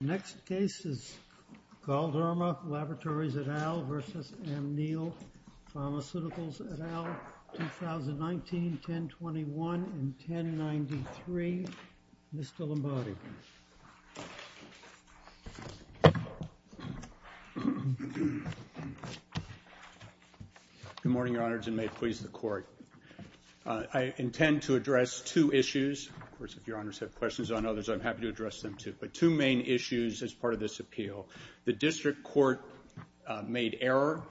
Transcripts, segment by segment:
Next case is Galderma Laboratories, L.P. v. Amneal Pharmaceuticals, L.P. 2019-1021-1093. Mr. Lombardi. Good morning, Your Honors, and may it please the Court. I intend to address two issues. Of course, if Your Honors have questions on others, I'm happy to address them too. But two main issues as part of this appeal. The District Court made error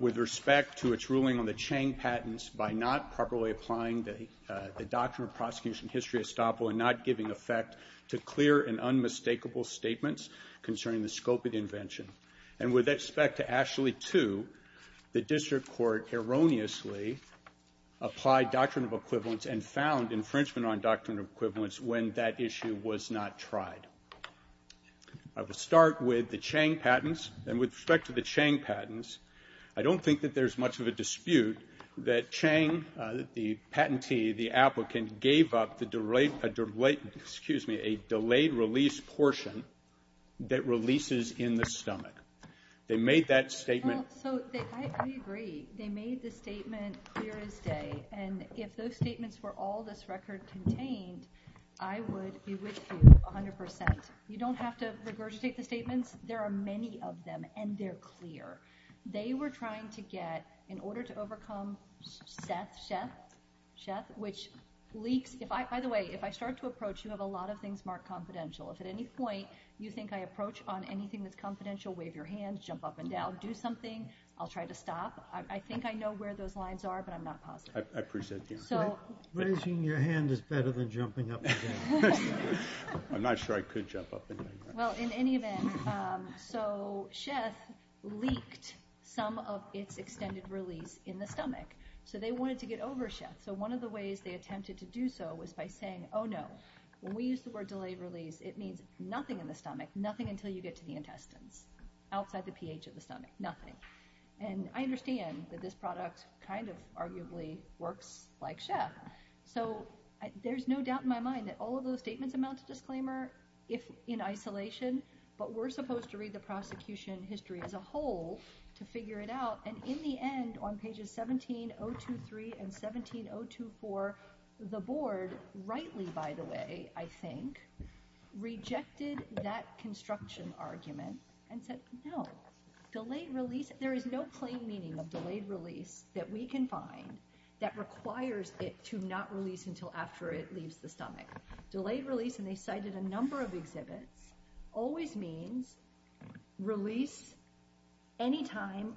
with respect to its ruling on the Chang patents by not properly applying the Doctrine of Prosecution History Estoppel and not giving effect to clear and unmistakable statements concerning the scope of the invention. And with respect to Ashley 2, the District Court erroneously applied Doctrine of Equivalence and found infringement on Doctrine of Equivalence when that issue was not tried. I will start with the Chang patents. And with respect to the Chang patents, I don't think that there's much of a dispute that Chang, the patentee, the applicant, gave up a delayed release portion that releases in the stomach. They made that statement. I agree. They made the statement clear as day. And if those statements were all this record contained, I would be with you 100%. You don't have to regurgitate the statements. There are many of them, and they're clear. They were trying to get, in order to overcome Seth, which leaks. By the way, if I start to approach, you have a lot of things marked confidential. If at any point you think I approach on anything that's confidential, wave your hand, jump up and down, do something, I'll try to stop. I think I know where those lines are, but I'm not positive. I appreciate the answer. Raising your hand is better than jumping up and down. I'm not sure I could jump up and down. Well, in any event, so Seth leaked some of its extended release in the stomach. So they wanted to get over Seth. So one of the ways they attempted to do so was by saying, oh, no, when we use the word delayed release, it means nothing in the stomach, nothing until you get to the intestines, outside the pH of the stomach, nothing. And I understand that this product kind of arguably works like Seth. So there's no doubt in my mind that all of those statements amount to disclaimer in isolation, but we're supposed to read the prosecution history as a whole to figure it out, and in the end, on pages 17-023 and 17-024, the board, rightly, by the way, I think, rejected that construction argument and said, no, delayed release, there is no plain meaning of delayed release that we can find that requires it to not release until after it leaves the stomach. Delayed release, and they cited a number of exhibits, always means release anytime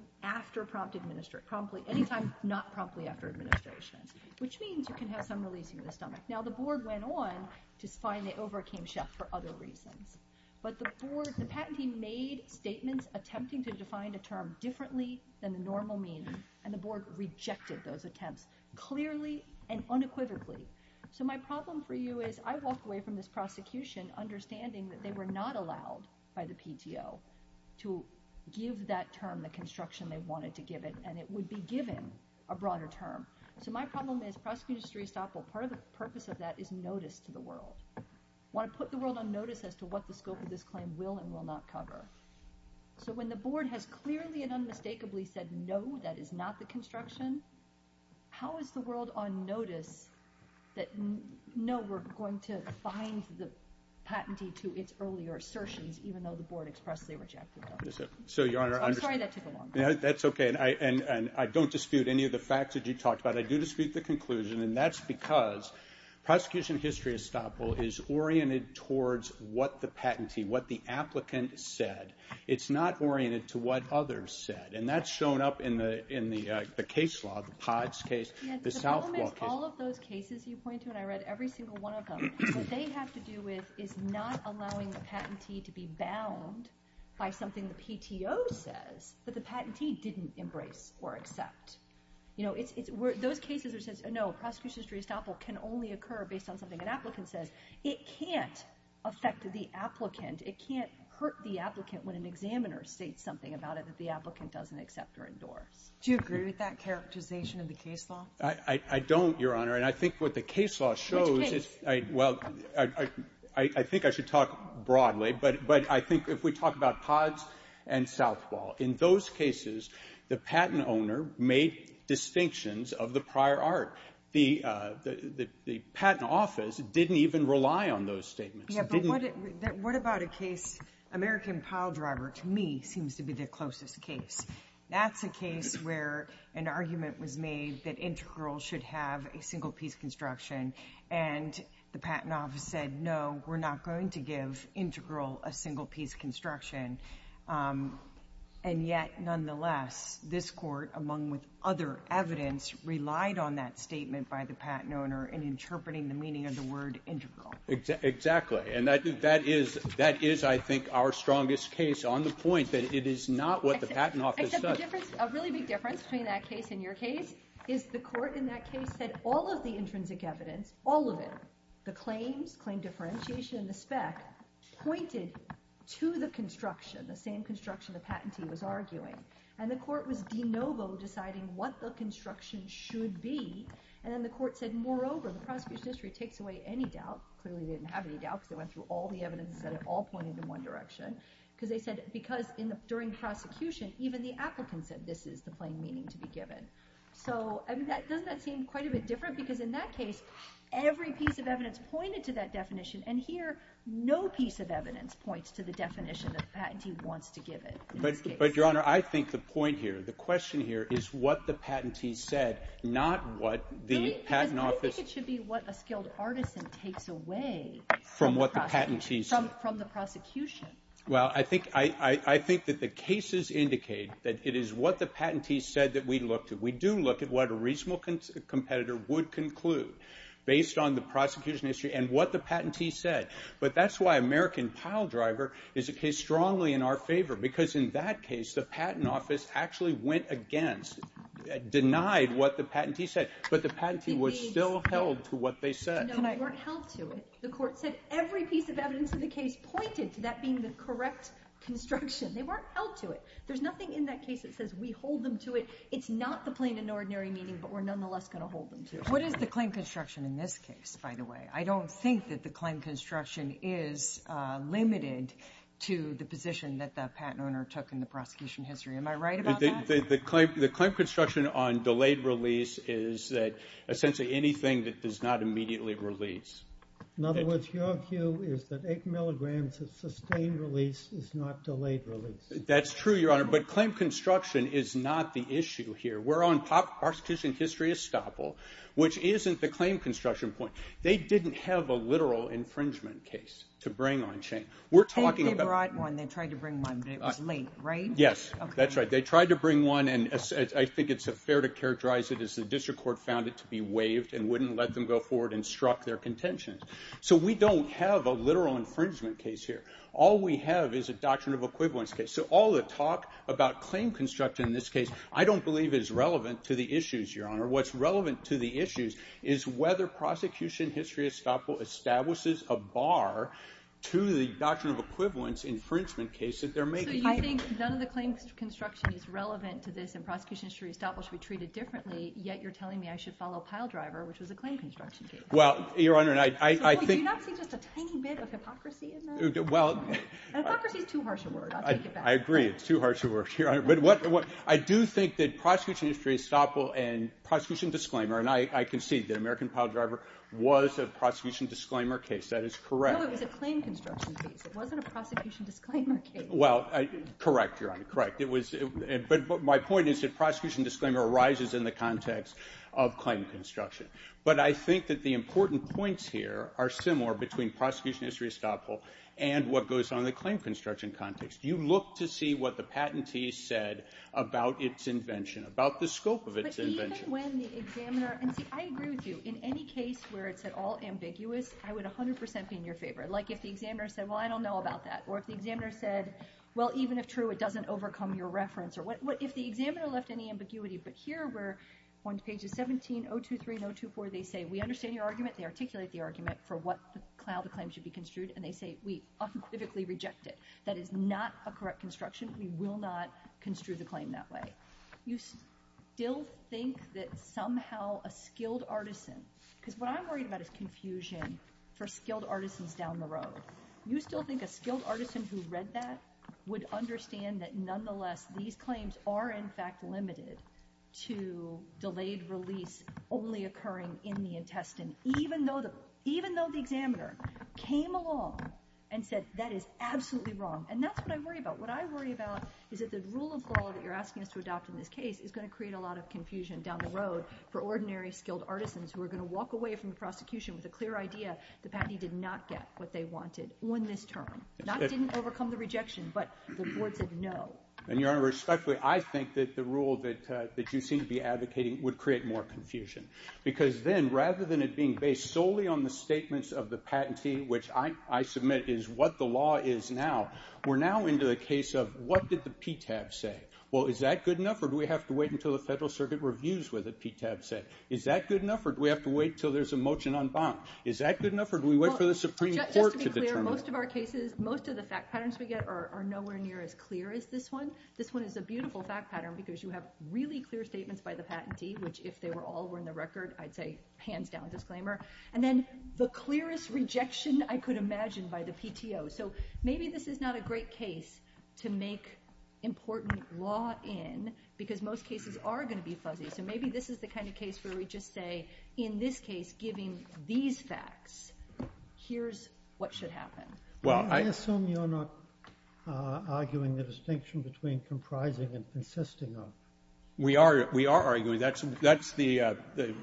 not promptly after administration, which means you can have some release in the stomach. Now, the board went on to find they overcame Seth for other reasons, but the board, the patentee made statements attempting to define a term differently than the normal meaning, and the board rejected those attempts clearly and unequivocally. So my problem for you is I walk away from this prosecution understanding that they were not allowed by the PTO to give that term the construction they wanted to give it, and it would be given a broader term. So my problem is prosecution history is stoppable. Part of the purpose of that is notice to the world. I want to put the world on notice as to what the scope of this claim will and will not cover. So when the board has clearly and unmistakably said no, that is not the construction, how is the world on notice that no, we're going to find the patentee to its earlier assertions, even though the board expressly rejected them? I'm sorry that took a long time. That's okay, and I don't dispute any of the facts that you talked about. I do dispute the conclusion, and that's because prosecution history is stoppable is oriented towards what the patentee, what the applicant said. It's not oriented to what others said, and that's shown up in the case law, the POTS case, the South Walk case. The problem is all of those cases you point to, and I read every single one of them, what they have to do with is not allowing the patentee to be bound by something the PTO says that the patentee didn't embrace or accept. You know, those cases where it says, no, prosecution history is stoppable can only occur based on something an applicant says. It can't affect the applicant. It can't hurt the applicant when an examiner states something about it that the applicant doesn't accept or endorse. Do you agree with that characterization of the case law? I don't, Your Honor, and I think what the case law shows is, well, I think I should talk broadly, but I think if we talk about POTS and South Walk, in those cases, the patent owner made distinctions of the prior art. The patent office didn't even rely on those statements. Yeah, but what about a case, American Piledriver, to me, seems to be the closest case. That's a case where an argument was made that Integral should have a single-piece construction, and the patent office said, no, we're not going to give Integral a single-piece construction. And yet, nonetheless, this court, among with other evidence, relied on that statement by the patent owner in interpreting the meaning of the word Integral. Exactly, and that is, I think, our strongest case, on the point that it is not what the patent office said. Except the difference, a really big difference between that case and your case is the court in that case said all of the intrinsic evidence, all of it, the claims, claim differentiation, and the spec, pointed to the construction, the same construction the patentee was arguing. And the court was de novo deciding what the construction should be, and then the court said, moreover, the prosecution history takes away any doubt, clearly they didn't have any doubt because they went through all the evidence and said it all pointed in one direction, because they said, because during prosecution, even the applicant said this is the plain meaning to be given. So, doesn't that seem quite a bit different? Because in that case, every piece of evidence pointed to that definition, and here, no piece of evidence points to the definition that the patentee wants to give it. But, Your Honor, I think the point here, the question here, is what the patentee said, not what the patent office. I think it should be what a skilled artisan takes away. From what the patentee said. From the prosecution. Well, I think that the cases indicate that it is what the patentee said that we looked at. We do look at what a reasonable competitor would conclude based on the prosecution history and what the patentee said. But that's why American Piledriver is strongly in our favor, because in that case, the patent office actually went against, denied what the patentee said. But the patentee was still held to what they said. No, they weren't held to it. The court said every piece of evidence in the case pointed to that being the correct construction. They weren't held to it. There's nothing in that case that says we hold them to it. It's not the plain and ordinary meaning, but we're nonetheless going to hold them to it. What is the claim construction in this case, by the way? I don't think that the claim construction is limited to the position that the patent owner took in the prosecution history. Am I right about that? The claim construction on delayed release is that essentially anything that does not immediately release. In other words, your view is that 8 milligrams of sustained release is not delayed release. That's true, Your Honor. But claim construction is not the issue here. We're on prosecution history estoppel, which isn't the claim construction point. They didn't have a literal infringement case to bring on change. They brought one. They tried to bring one, but it was late, right? Yes, that's right. They tried to bring one, and I think it's fair to characterize it as the district court found it to be waived and wouldn't let them go forward and struck their contention. So we don't have a literal infringement case here. All we have is a doctrine of equivalence case. So all the talk about claim construction in this case I don't believe is relevant to the issues, Your Honor. What's relevant to the issues is whether prosecution history estoppel to the doctrine of equivalence infringement case that they're making. So you think none of the claim construction is relevant to this and prosecution history estoppel should be treated differently, yet you're telling me I should follow piledriver, which was a claim construction case? Well, Your Honor, I think... Do you not see just a tiny bit of hypocrisy in that? Well... And hypocrisy is too harsh a word. I'll take it back. I agree, it's too harsh a word, Your Honor. But I do think that prosecution history estoppel and prosecution disclaimer, and I concede that American Piledriver was a prosecution disclaimer case. That is correct. No, it was a claim construction case. It wasn't a prosecution disclaimer case. Well, correct, Your Honor, correct. But my point is that prosecution disclaimer arises in the context of claim construction. But I think that the important points here are similar between prosecution history estoppel and what goes on in the claim construction context. You look to see what the patentee said about its invention, about the scope of its invention. But even when the examiner... And see, I agree with you. In any case where it's at all ambiguous, I would 100% be in your favor. Like if the examiner said, well, I don't know about that. Or if the examiner said, well, even if true, it doesn't overcome your reference. Or if the examiner left any ambiguity, but here we're on pages 17, 023, and 024, they say, we understand your argument. They articulate the argument for how the claim should be construed. And they say, we unequivocally reject it. That is not a correct construction. We will not construe the claim that way. You still think that somehow a skilled artisan... Because what I'm worried about is confusion for skilled artisans down the road. You still think a skilled artisan who read that would understand that nonetheless, these claims are in fact limited to delayed release only occurring in the intestine, even though the examiner came along and said that is absolutely wrong. And that's what I worry about. What I worry about is that the rule of law that you're asking us to adopt in this case is going to create a lot of confusion down the road for ordinary skilled artisans who are going to walk away from the prosecution with a clear idea the patentee did not get what they wanted on this term. Not that they didn't overcome the rejection, but the board said no. And, Your Honor, respectfully, I think that the rule that you seem to be advocating would create more confusion. Because then, rather than it being based solely on the statements of the patentee, which I submit is what the law is now, we're now into the case of what did the PTAB say? Well, is that good enough, or do we have to wait until the Federal Circuit reviews what the PTAB said? Is that good enough, or do we have to wait until there's a motion on bond? Is that good enough, or do we wait for the Supreme Court to determine? Just to be clear, most of our cases, most of the fact patterns we get are nowhere near as clear as this one. This one is a beautiful fact pattern because you have really clear statements by the patentee, which if they all were in the record, I'd say, hands down, disclaimer. And then the clearest rejection I could imagine by the PTO. So maybe this is not a great case to make important law in because most cases are going to be fuzzy. So maybe this is the kind of case where we just say, in this case, giving these facts, here's what should happen. Well, I assume you're not arguing the distinction between comprising and consisting of. We are. We are arguing. That's the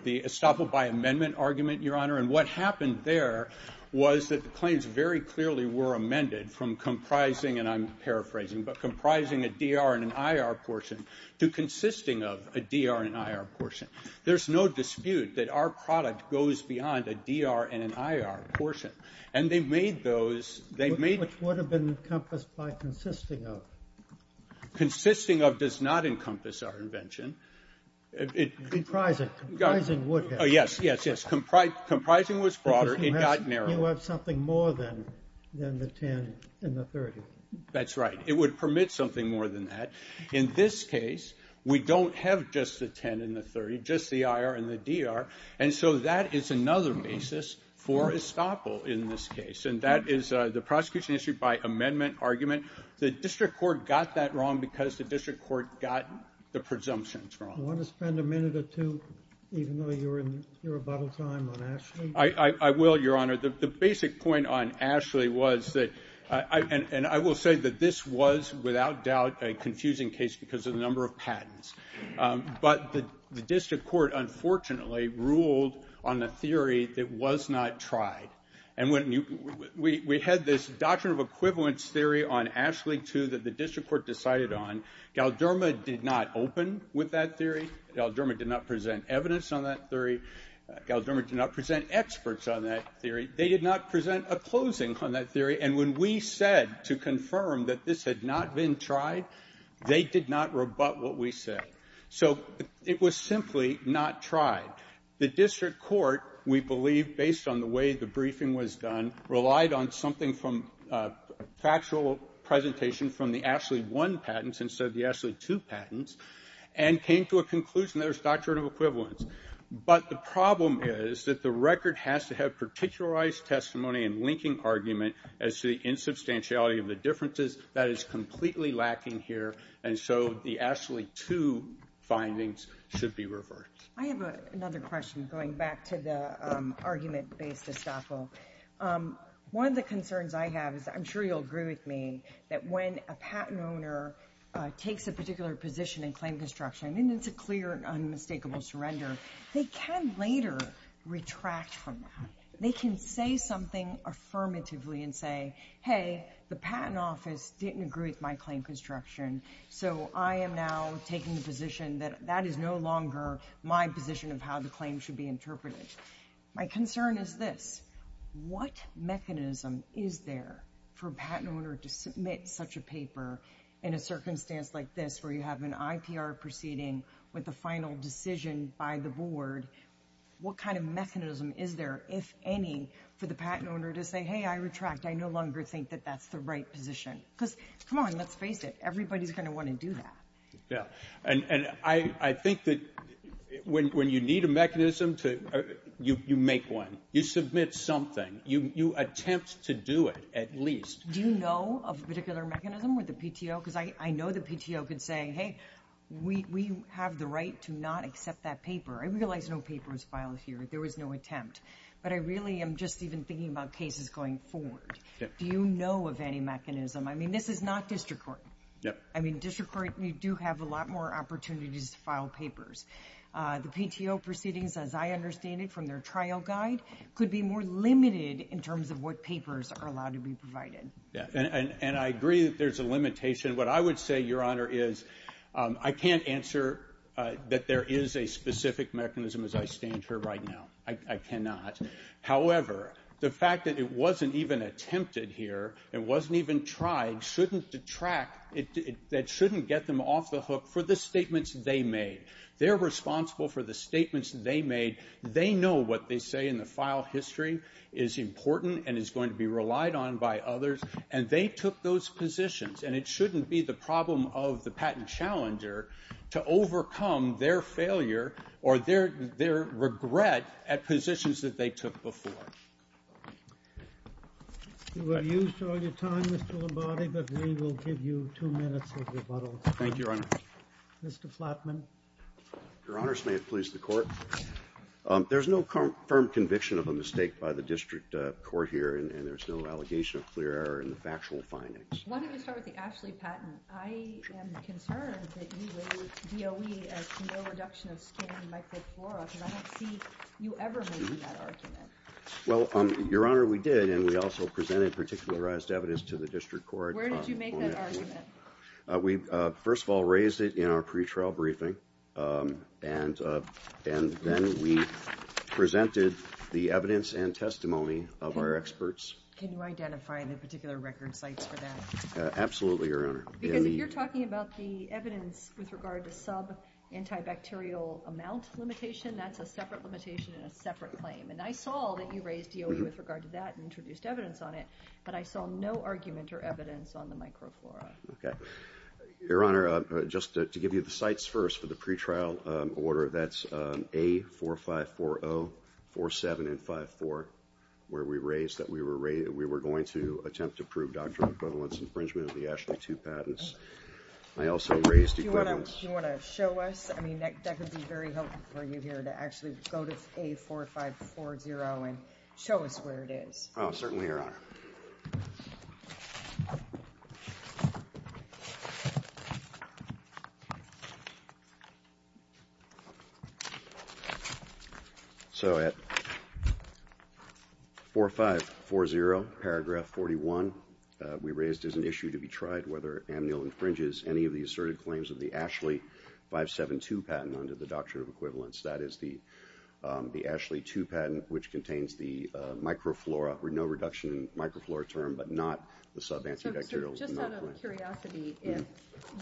estoppel by amendment argument, Your Honor. And what happened there was that the claims very clearly were amended from comprising, and I'm paraphrasing, but comprising a DR and an IR portion to consisting of a DR and an IR portion. There's no dispute that our product goes beyond a DR and an IR portion. And they've made those, they've made... Which would have been encompassed by consisting of. Consisting of does not encompass our invention. Comprising would have. Yes, yes, yes. Comprising was broader. It got narrower. You have something more than the 10 and the 30. That's right. It would permit something more than that. In this case, we don't have just the 10 and the 30, just the IR and the DR, and so that is another basis for estoppel in this case, and that is the prosecution issued by amendment argument. The district court got that wrong because the district court got the presumptions wrong. Do you want to spend a minute or two, even though you're in rebuttal time on Ashley? I will, Your Honor. The basic point on Ashley was that, and I will say that this was without doubt a confusing case because of the number of patents. But the district court, unfortunately, ruled on a theory that was not tried. And we had this doctrine of equivalence theory on Ashley, too, that the district court decided on. Galderma did not open with that theory. Galderma did not present evidence on that theory. Galderma did not present experts on that theory. They did not present a closing on that theory, and when we said to confirm that this had not been tried, they did not rebut what we said. So it was simply not tried. The district court, we believe, based on the way the briefing was done, relied on something from factual presentation from the Ashley I patents instead of the Ashley II patents and came to a conclusion that there's doctrine of equivalence. But the problem is that the record has to have particularized testimony in linking argument as to the insubstantiality of the differences. That is completely lacking here, and so the Ashley II findings should be reversed. I have another question, going back to the argument-based estoppel. One of the concerns I have is, I'm sure you'll agree with me, that when a patent owner takes a particular position in claim construction, and it's a clear and unmistakable surrender, they can later retract from that. They can say something affirmatively and say, hey, the patent office didn't agree with my claim construction, so I am now taking the position that that is no longer my position of how the claim should be interpreted. My concern is this. What mechanism is there for a patent owner to submit such a paper in a circumstance like this, where you have an IPR proceeding with a final decision by the board? What kind of mechanism is there, if any, for the patent owner to say, hey, I retract. I no longer think that that's the right position. Because, come on, let's face it, everybody's going to want to do that. Yeah, and I think that when you need a mechanism, you make one. You submit something. You attempt to do it, at least. Do you know of a particular mechanism with the PTO? Because I know the PTO could say, hey, we have the right to not accept that paper. I realize no paper was filed here. There was no attempt. But I really am just even thinking about cases going forward. Do you know of any mechanism? I mean, this is not district court. I mean, district court, you do have a lot more opportunities to file papers. The PTO proceedings, as I understand it, from their trial guide, could be more limited in terms of what papers are allowed to be provided. Yeah, and I agree that there's a limitation. What I would say, Your Honor, is I can't answer that there is a specific mechanism, as I stand here right now. I cannot. However, the fact that it wasn't even attempted here, it wasn't even tried, shouldn't detract. That shouldn't get them off the hook for the statements they made. They're responsible for the statements they made. They know what they say in the file history is important and is going to be relied on by others, and they took those positions. And it shouldn't be the problem of the patent challenger to overcome their failure or their regret at positions that they took before. You were used all your time, Mr. Lombardi, but we will give you two minutes of rebuttal. Thank you, Your Honor. Mr. Flatman. Your Honors, may it please the Court. There's no confirmed conviction of a mistake by the district court here, and there's no allegation of clear error in the factual findings. Why don't we start with the Ashley patent? I am concerned that you raised DOE as no reduction of skin microflora, because I don't see you ever making that argument. Well, Your Honor, we did, and we also presented particularized evidence to the district court. Where did you make that argument? We, first of all, raised it in our pretrial briefing, and then we presented the evidence and testimony of our experts. Can you identify any particular record sites for that? Absolutely, Your Honor. Because if you're talking about the evidence with regard to sub-antibacterial amount limitation, that's a separate limitation and a separate claim. And I saw that you raised DOE with regard to that and introduced evidence on it, but I saw no argument or evidence on the microflora. Okay. Your Honor, just to give you the sites first for the pretrial order, that's A4540, 47, and 54, where we raised that we were going to attempt to prove doctrinal equivalence infringement of the Ashley 2 patents. I also raised equivalence... Do you want to show us? I mean, that would be very helpful for you here to actually go to A4540 and show us where it is. Oh, certainly, Your Honor. So at A4540, paragraph 41, we raised as an issue to be tried whether amnil infringes any of the asserted claims of the Ashley 572 patent under the doctrine of equivalence. That is the Ashley 2 patent, which contains the microflora, And we raised that as an issue to be tried So just out of curiosity, if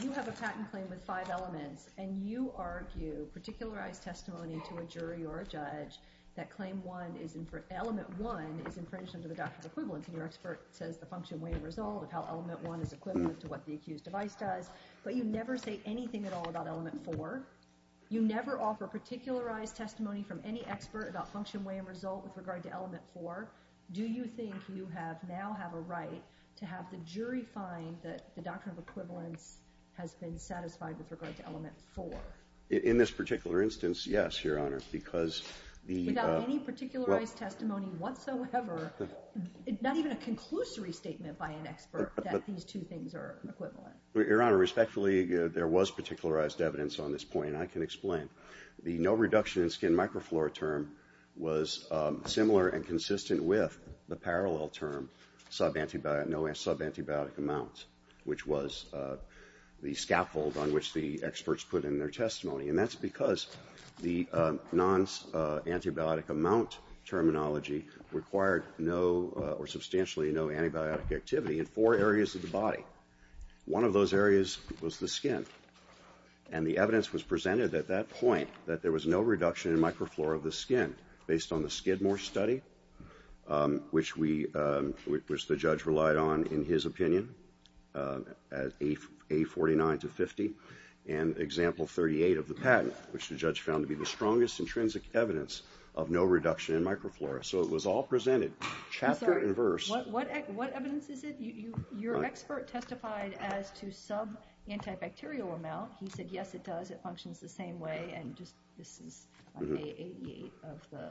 you have a patent claim with five elements and you argue particularized testimony to a jury or a judge that claim one is... Element one is infringed under the doctrine of equivalence and your expert says the function, way, and result of how element one is equivalent to what the accused device does, but you never say anything at all about element four, you never offer particularized testimony from any expert about function, way, and result with regard to element four, do you think you now have a right to have the jury find that the doctrine of equivalence has been satisfied with regard to element four? In this particular instance, yes, Your Honor, because the... Without any particularized testimony whatsoever, not even a conclusory statement by an expert that these two things are equivalent. Your Honor, respectfully, there was particularized evidence on this point, and I can explain. The no reduction in skin microflora term was similar and consistent with the parallel term no sub-antibiotic amount, which was the scaffold on which the experts put in their testimony, and that's because the non-antibiotic amount terminology required substantially no antibiotic activity in four areas of the body. One of those areas was the skin, and the evidence was presented at that point that there was no reduction in microflora of the skin based on the Skidmore study, which the judge relied on, in his opinion, as A49 to 50, and Example 38 of the patent, which the judge found to be the strongest intrinsic evidence of no reduction in microflora. So it was all presented chapter and verse. I'm sorry, what evidence is it? Your expert testified as to sub-antibacterial amount. He said, yes, it does, it functions the same way, and this is on A88 of the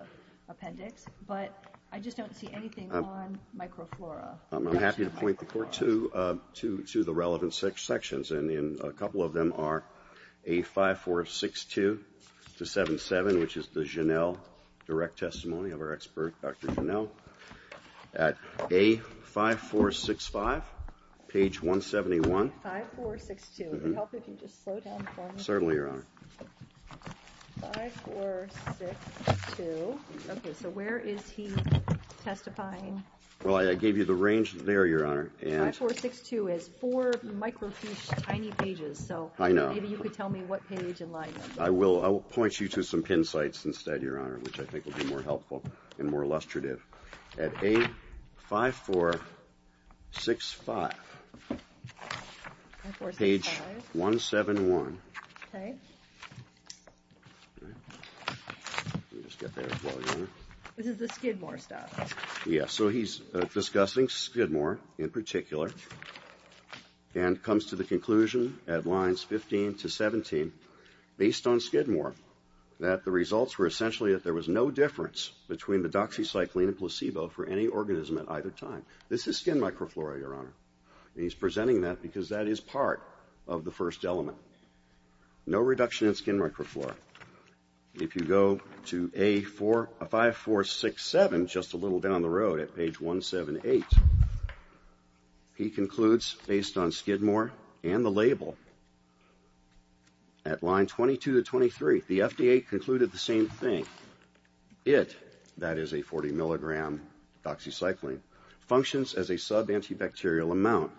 appendix, but I just don't see anything on microflora. I'm happy to point the Court to the relevant sections, and a couple of them are A5462 to 77, which is the Janelle direct testimony of our expert, Dr. Janelle, at A5465, page 171. A5462. Would it help if you just slow down for me? Certainly, Your Honor. A5462. Okay, so where is he testifying? Well, I gave you the range there, Your Honor. A5462 is four microfiche tiny pages, so maybe you could tell me what page in line that is. I will point you to some pin sites instead, Your Honor, which I think will be more helpful and more illustrative. At A5465, page 171. Okay. Let me just get there as well, Your Honor. This is the Skidmore stuff. Yes, so he's discussing Skidmore in particular and comes to the conclusion at lines 15 to 17, based on Skidmore, that the results were essentially that there was no difference between the doxycycline and placebo for any organism at either time. This is skin microflora, Your Honor, and he's presenting that because that is part of the first element. No reduction in skin microflora. If you go to A5467, just a little down the road at page 178, he concludes, based on Skidmore and the label, at line 22 to 23, the FDA concluded the same thing. It, that is a 40-milligram doxycycline, functions as a sub-antibacterial amount,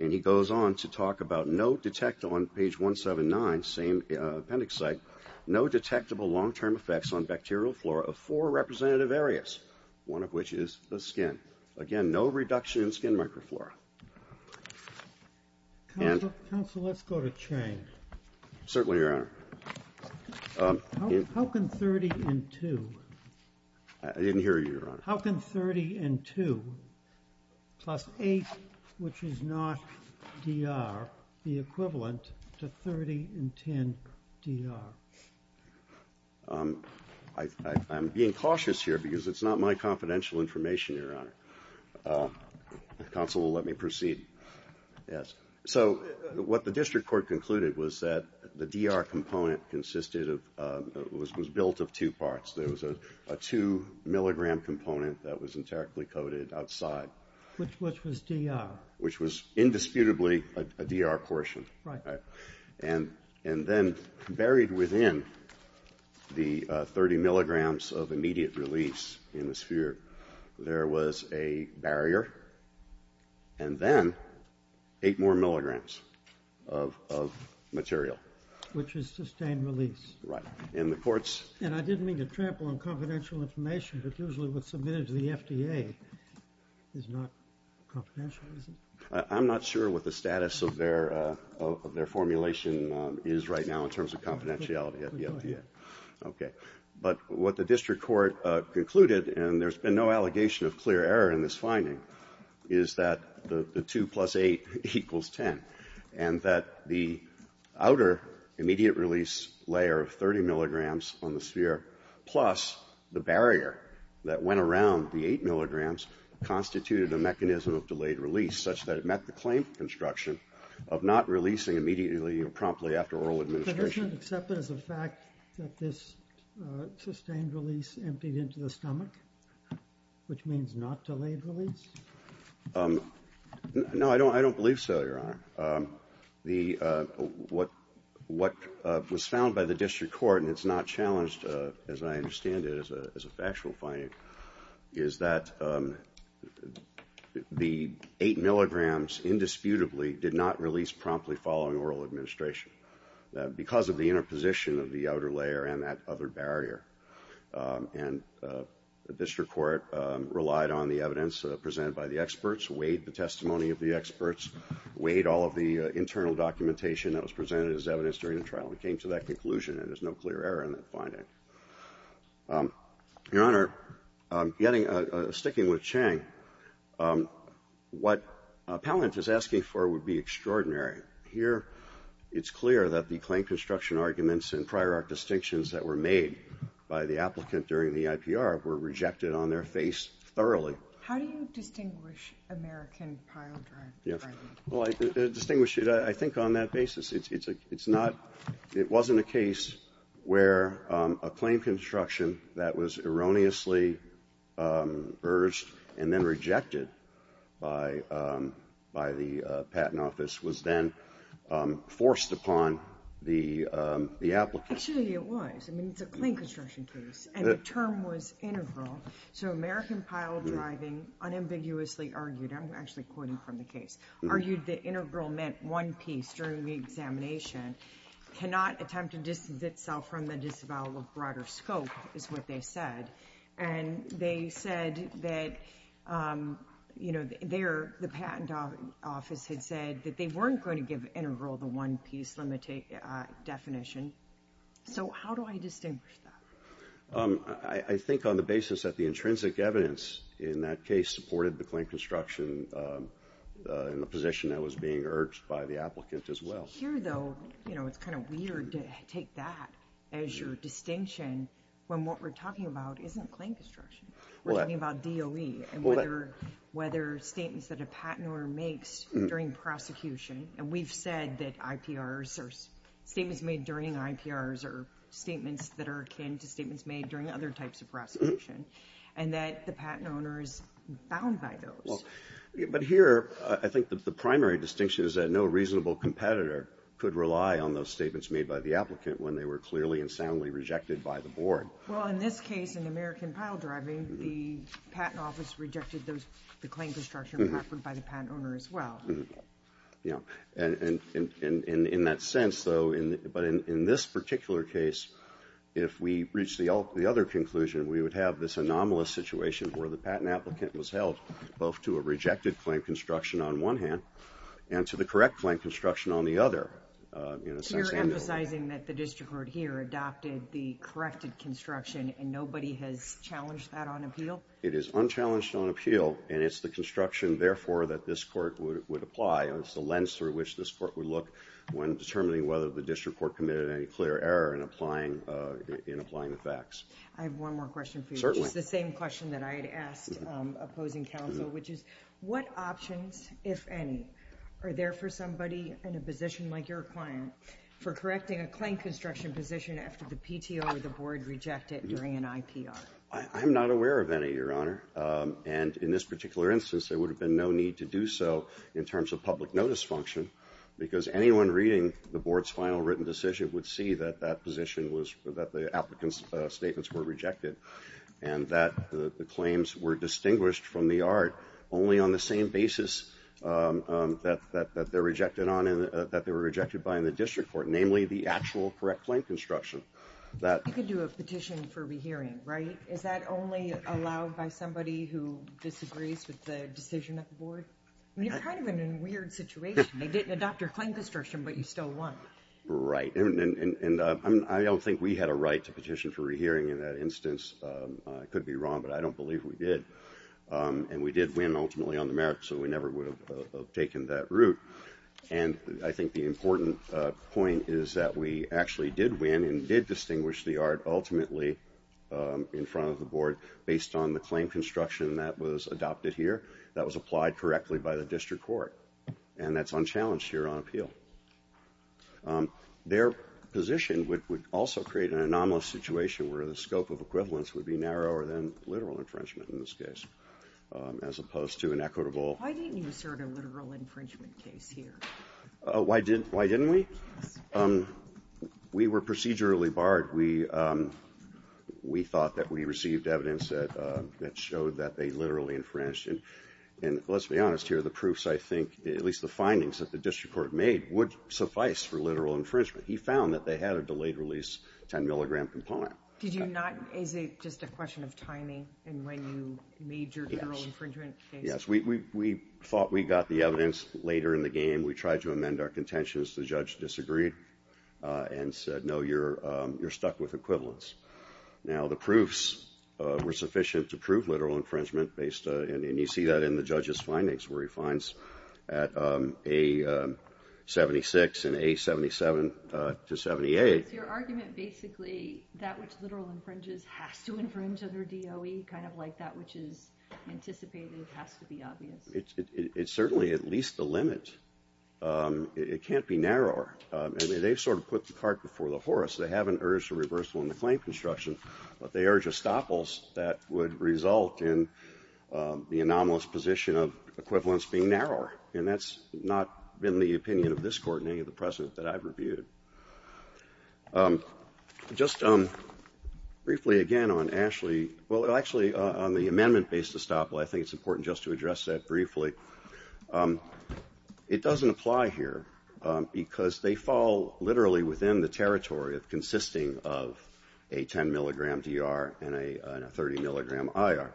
and he goes on to talk about no detectable, on page 179, same appendix site, no detectable long-term effects on bacterial flora of four representative areas, one of which is the skin. Again, no reduction in skin microflora. Counsel, let's go to Chang. Certainly, Your Honor. How can 30 and 2? I didn't hear you, Your Honor. How can 30 and 2 plus 8, which is not DR, be equivalent to 30 and 10 DR? I'm being cautious here because it's not my confidential information, Your Honor. Counsel, let me proceed. Yes, so what the district court concluded was that the DR component consisted of, was built of two parts. There was a 2-milligram component that was entirely coated outside. Which was DR? Which was indisputably a DR portion. Right. And then buried within the 30 milligrams of immediate release in the sphere, there was a barrier, and then 8 more milligrams of material. Which is sustained release. Right. And the court's... And I didn't mean to trample on confidential information, but usually what's submitted to the FDA is not confidential, is it? I'm not sure what the status of their formulation is right now in terms of confidentiality at the FDA. Okay. But what the district court concluded, and there's been no allegation of clear error in this finding, is that the 2 plus 8 equals 10. And that the outer immediate release layer of 30 milligrams on the sphere plus the barrier that went around the 8 milligrams constituted a mechanism of delayed release such that it met the claim construction of not releasing immediately or promptly after oral administration. But isn't it accepted as a fact that this sustained release emptied into the stomach? Which means not delayed release? No, I don't believe so, Your Honor. What was found by the district court, and it's not challenged, as I understand it, as a factual finding, is that the 8 milligrams indisputably did not release promptly following oral administration. Because of the interposition of the outer layer and that other barrier. And the district court relied on the evidence presented by the experts, weighed the testimony of the experts, weighed all of the internal documentation that was presented as evidence during the trial. It came to that conclusion, and there's no clear error in that finding. Your Honor, sticking with Chang, what Pallant is asking for would be extraordinary. Here, it's clear that the claim construction arguments and prior art distinctions that were made by the applicant during the IPR were rejected on their face thoroughly. How do you distinguish American prior art? Well, I distinguish it, I think, on that basis. It's not, it wasn't a case where a claim construction that was erroneously urged and then rejected by the patent office was then forced upon the applicant. Actually, it was. I mean, it's a claim construction case, and the term was integral. So American prior driving unambiguously argued, I'm actually quoting from the case, argued that integral meant one piece during the examination, cannot attempt to distance itself from the disavowal of broader scope, is what they said. And they said that, you know, the patent office had said that they weren't going to give integral the one piece definition. So how do I distinguish that? I think on the basis that the intrinsic evidence in that case supported the claim construction in the position that was being urged by the applicant as well. Here, though, you know, it's kind of weird to take that as your distinction when what we're talking about isn't claim construction. We're talking about DOE and whether statements that a patent owner makes during prosecution, and we've said that IPRs or statements made during IPRs are statements that are akin to statements made during other types of prosecution, and that the patent owner is bound by those. But here, I think that the primary distinction is that no reasonable competitor could rely on those statements made by the applicant when they were clearly and soundly rejected by the board. Well, in this case, in American Piledriving, the patent office rejected the claim construction offered by the patent owner as well. Yeah, and in that sense, though, but in this particular case, if we reach the other conclusion, we would have this anomalous situation where the patent applicant was held both to a rejected claim construction on one hand and to the correct claim construction on the other. So you're emphasizing that the district court here adopted the corrected construction, and nobody has challenged that on appeal? It is unchallenged on appeal, and it's the construction, therefore, that this court would apply. It's the lens through which this court would look when determining whether the district court committed any clear error in applying the facts. I have one more question for you, which is the same question that I had asked opposing counsel, which is, what options, if any, are there for somebody in a position like your client for correcting a claim construction position after the PTO or the board reject it during an IPR? I'm not aware of any, Your Honor. And in this particular instance, there would have been no need to do so in terms of public notice function because anyone reading the board's final written decision would see that that position was, that the applicant's statements were rejected and that the claims were distinguished from the art only on the same basis that they're rejected on and that they were rejected by in the district court, namely the actual correct claim construction. You could do a petition for rehearing, right? Is that only allowed by somebody who disagrees with the decision of the board? I mean, you're kind of in a weird situation. They didn't adopt your claim construction, but you still won. Right, and I don't think we had a right to petition for rehearing in that instance. I could be wrong, but I don't believe we did. And we did win ultimately on the merits, so we never would have taken that route. And I think the important point is that we actually did win and did distinguish the art ultimately in front of the board based on the claim construction that was adopted here that was applied correctly by the district court. And that's unchallenged here on appeal. Their position would also create an anomalous situation where the scope of equivalence would be narrower than literal infringement in this case, as opposed to an equitable... Why didn't you assert a literal infringement case here? Why didn't we? We were procedurally barred. We thought that we received evidence that showed that they literally infringed. And let's be honest here. The proofs, I think, at least the findings that the district court made, would suffice for literal infringement. He found that they had a delayed-release 10-milligram component. Is it just a question of timing in when you made your literal infringement case? Yes. We thought we got the evidence later in the game. We tried to amend our contentions. The judge disagreed and said, no, you're stuck with equivalence. Now, the proofs were sufficient to prove literal infringement and you see that in the judge's findings where he finds at A76 and A77 to 78... Is your argument basically that which literal infringes has to infringe under DOE, kind of like that which is anticipated has to be obvious? It's certainly at least the limit. It can't be narrower. They've sort of put the cart before the horse. They haven't urged a reversal in the claim construction, but they urge a stoppalse that would result in the anomalous position of equivalence being narrower. And that's not been the opinion of this court, nor has it been any of the precedent that I've reviewed. Just briefly again on Ashley... Well, actually, on the amendment-based stoppal, I think it's important just to address that briefly. It doesn't apply here because they fall literally within the territory consisting of a 10-milligram DR and a 30-milligram IR.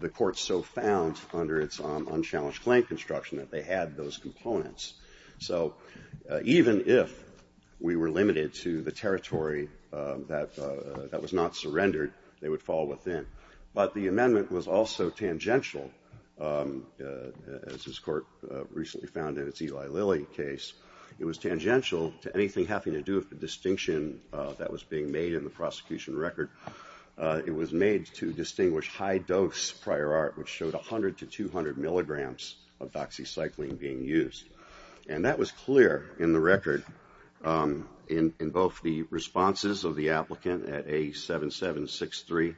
The court so found under its unchallenged claim construction that they had those components. So even if we were limited to the territory that was not surrendered, they would fall within. But the amendment was also tangential, as this court recently found in its Eli Lilly case. It was tangential to anything having to do with the distinction that was being made in the prosecution record. It was made to distinguish high-dose prior art, which showed 100 to 200 milligrams of doxycycline being used. And that was clear in the record in both the responses of the applicant at A7763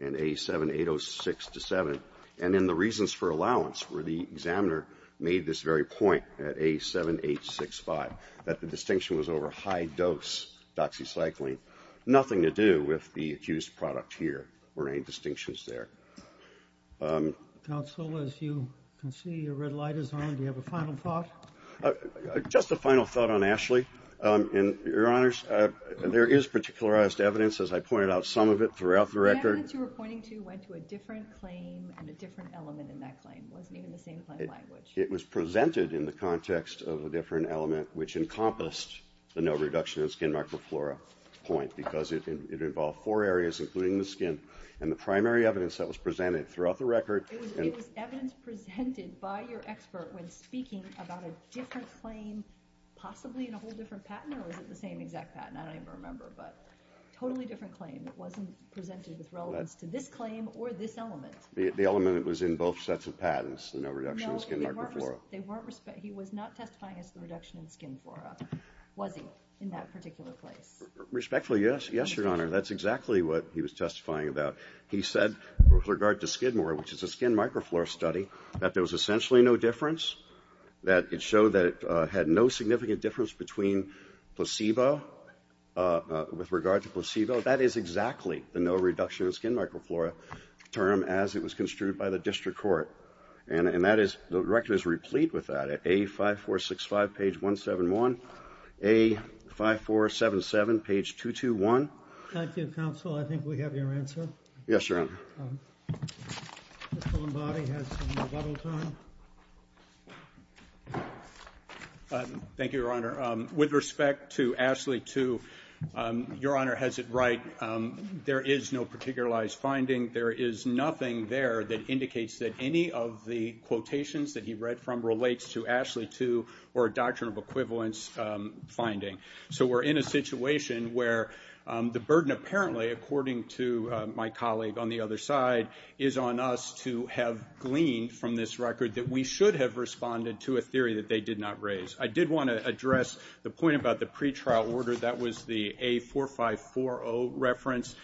and A7806-7, and in the reasons for allowance where the examiner made this very point at A7865, that the distinction was over high-dose doxycycline, nothing to do with the accused product here or any distinctions there. Counsel, as you can see, your red light is on. Do you have a final thought? Just a final thought on Ashley. Your Honors, there is particularized evidence, as I pointed out, some of it throughout the record. The evidence you were pointing to went to a different claim and a different element in that claim. It wasn't even the same claim language. It was presented in the context of a different element, which encompassed the no reduction in skin microflora point, because it involved four areas, including the skin. And the primary evidence that was presented throughout the record... It was evidence presented by your expert when speaking about a different claim, possibly in a whole different patent, or was it the same exact patent? I don't even remember, but totally different claim. It wasn't presented with relevance to this claim or this element. The element was in both sets of patents, the no reduction in skin microflora. He was not testifying as to the reduction in skin flora, was he, in that particular place? Respectfully, yes, Your Honor. That's exactly what he was testifying about. He said, with regard to Skidmore, which is a skin microflora study, that there was essentially no difference, that it showed that it had no significant difference between placebo, with regard to placebo. That is exactly the no reduction in skin microflora term as it was construed by the district court. And that is... the record is replete with that. A5465, page 171. A5477, page 221. Thank you, counsel. I think we have your answer. Yes, Your Honor. Mr. Lombardi has some rebuttal time. Thank you, Your Honor. With respect to Ashley 2, Your Honor has it right. There is no particularized finding. There is nothing there that indicates that any of the quotations that he read from relates to Ashley 2 or a doctrinal equivalence finding. So we're in a situation where the burden apparently, according to my colleague on the other side, is on us to have gleaned from this record that we should have responded to a theory that they did not raise. I did want to address the point about the pretrial order. That was the A4540 reference.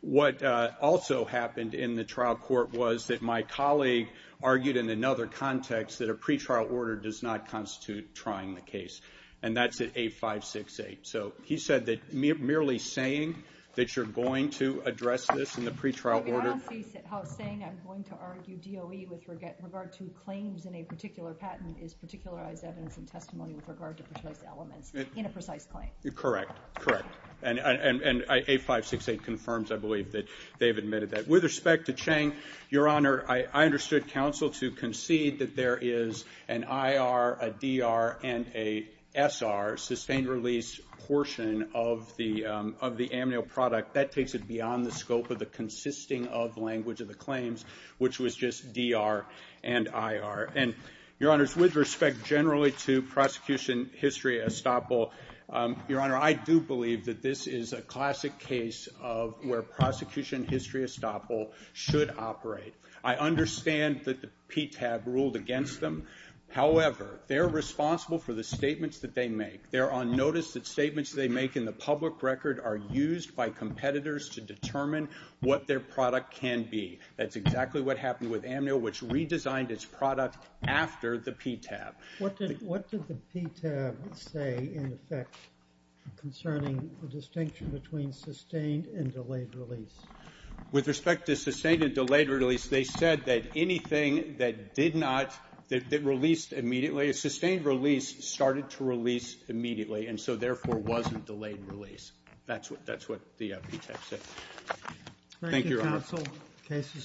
What also happened in the trial court was that my colleague argued in another context that a pretrial order does not constitute trying the case, and that's at A568. So he said that merely saying that you're going to address this in the pretrial order... Maybe what I'm saying, I'm going to argue DOE with regard to claims in a particular patent is particularized evidence and testimony with regard to precise elements in a precise claim. Correct, correct. And A568 confirms, I believe, that they've admitted that. With respect to Chang, Your Honor, I understood counsel to concede that there is an IR, a DR, and a SR, sustained-release portion of the amnio product. That takes it beyond the scope of the consisting-of language of the claims, which was just DR and IR. And, Your Honor, with respect generally to prosecution history estoppel, Your Honor, I do believe that this is a classic case of where prosecution history estoppel should operate. I understand that the PTAB ruled against them. However, they're responsible for the statements that they make. They're on notice that statements they make in the public record are used by competitors to determine what their product can be. That's exactly what happened with amnio, which redesigned its product after the PTAB. What did the PTAB say, in effect, concerning the distinction between sustained and delayed release? With respect to sustained and delayed release, they said that anything that did not... that released immediately... sustained release started to release immediately, and so, therefore, wasn't delayed release. That's what the PTAB said. Thank you, Your Honor. Thank you, counsel. Case is submitted.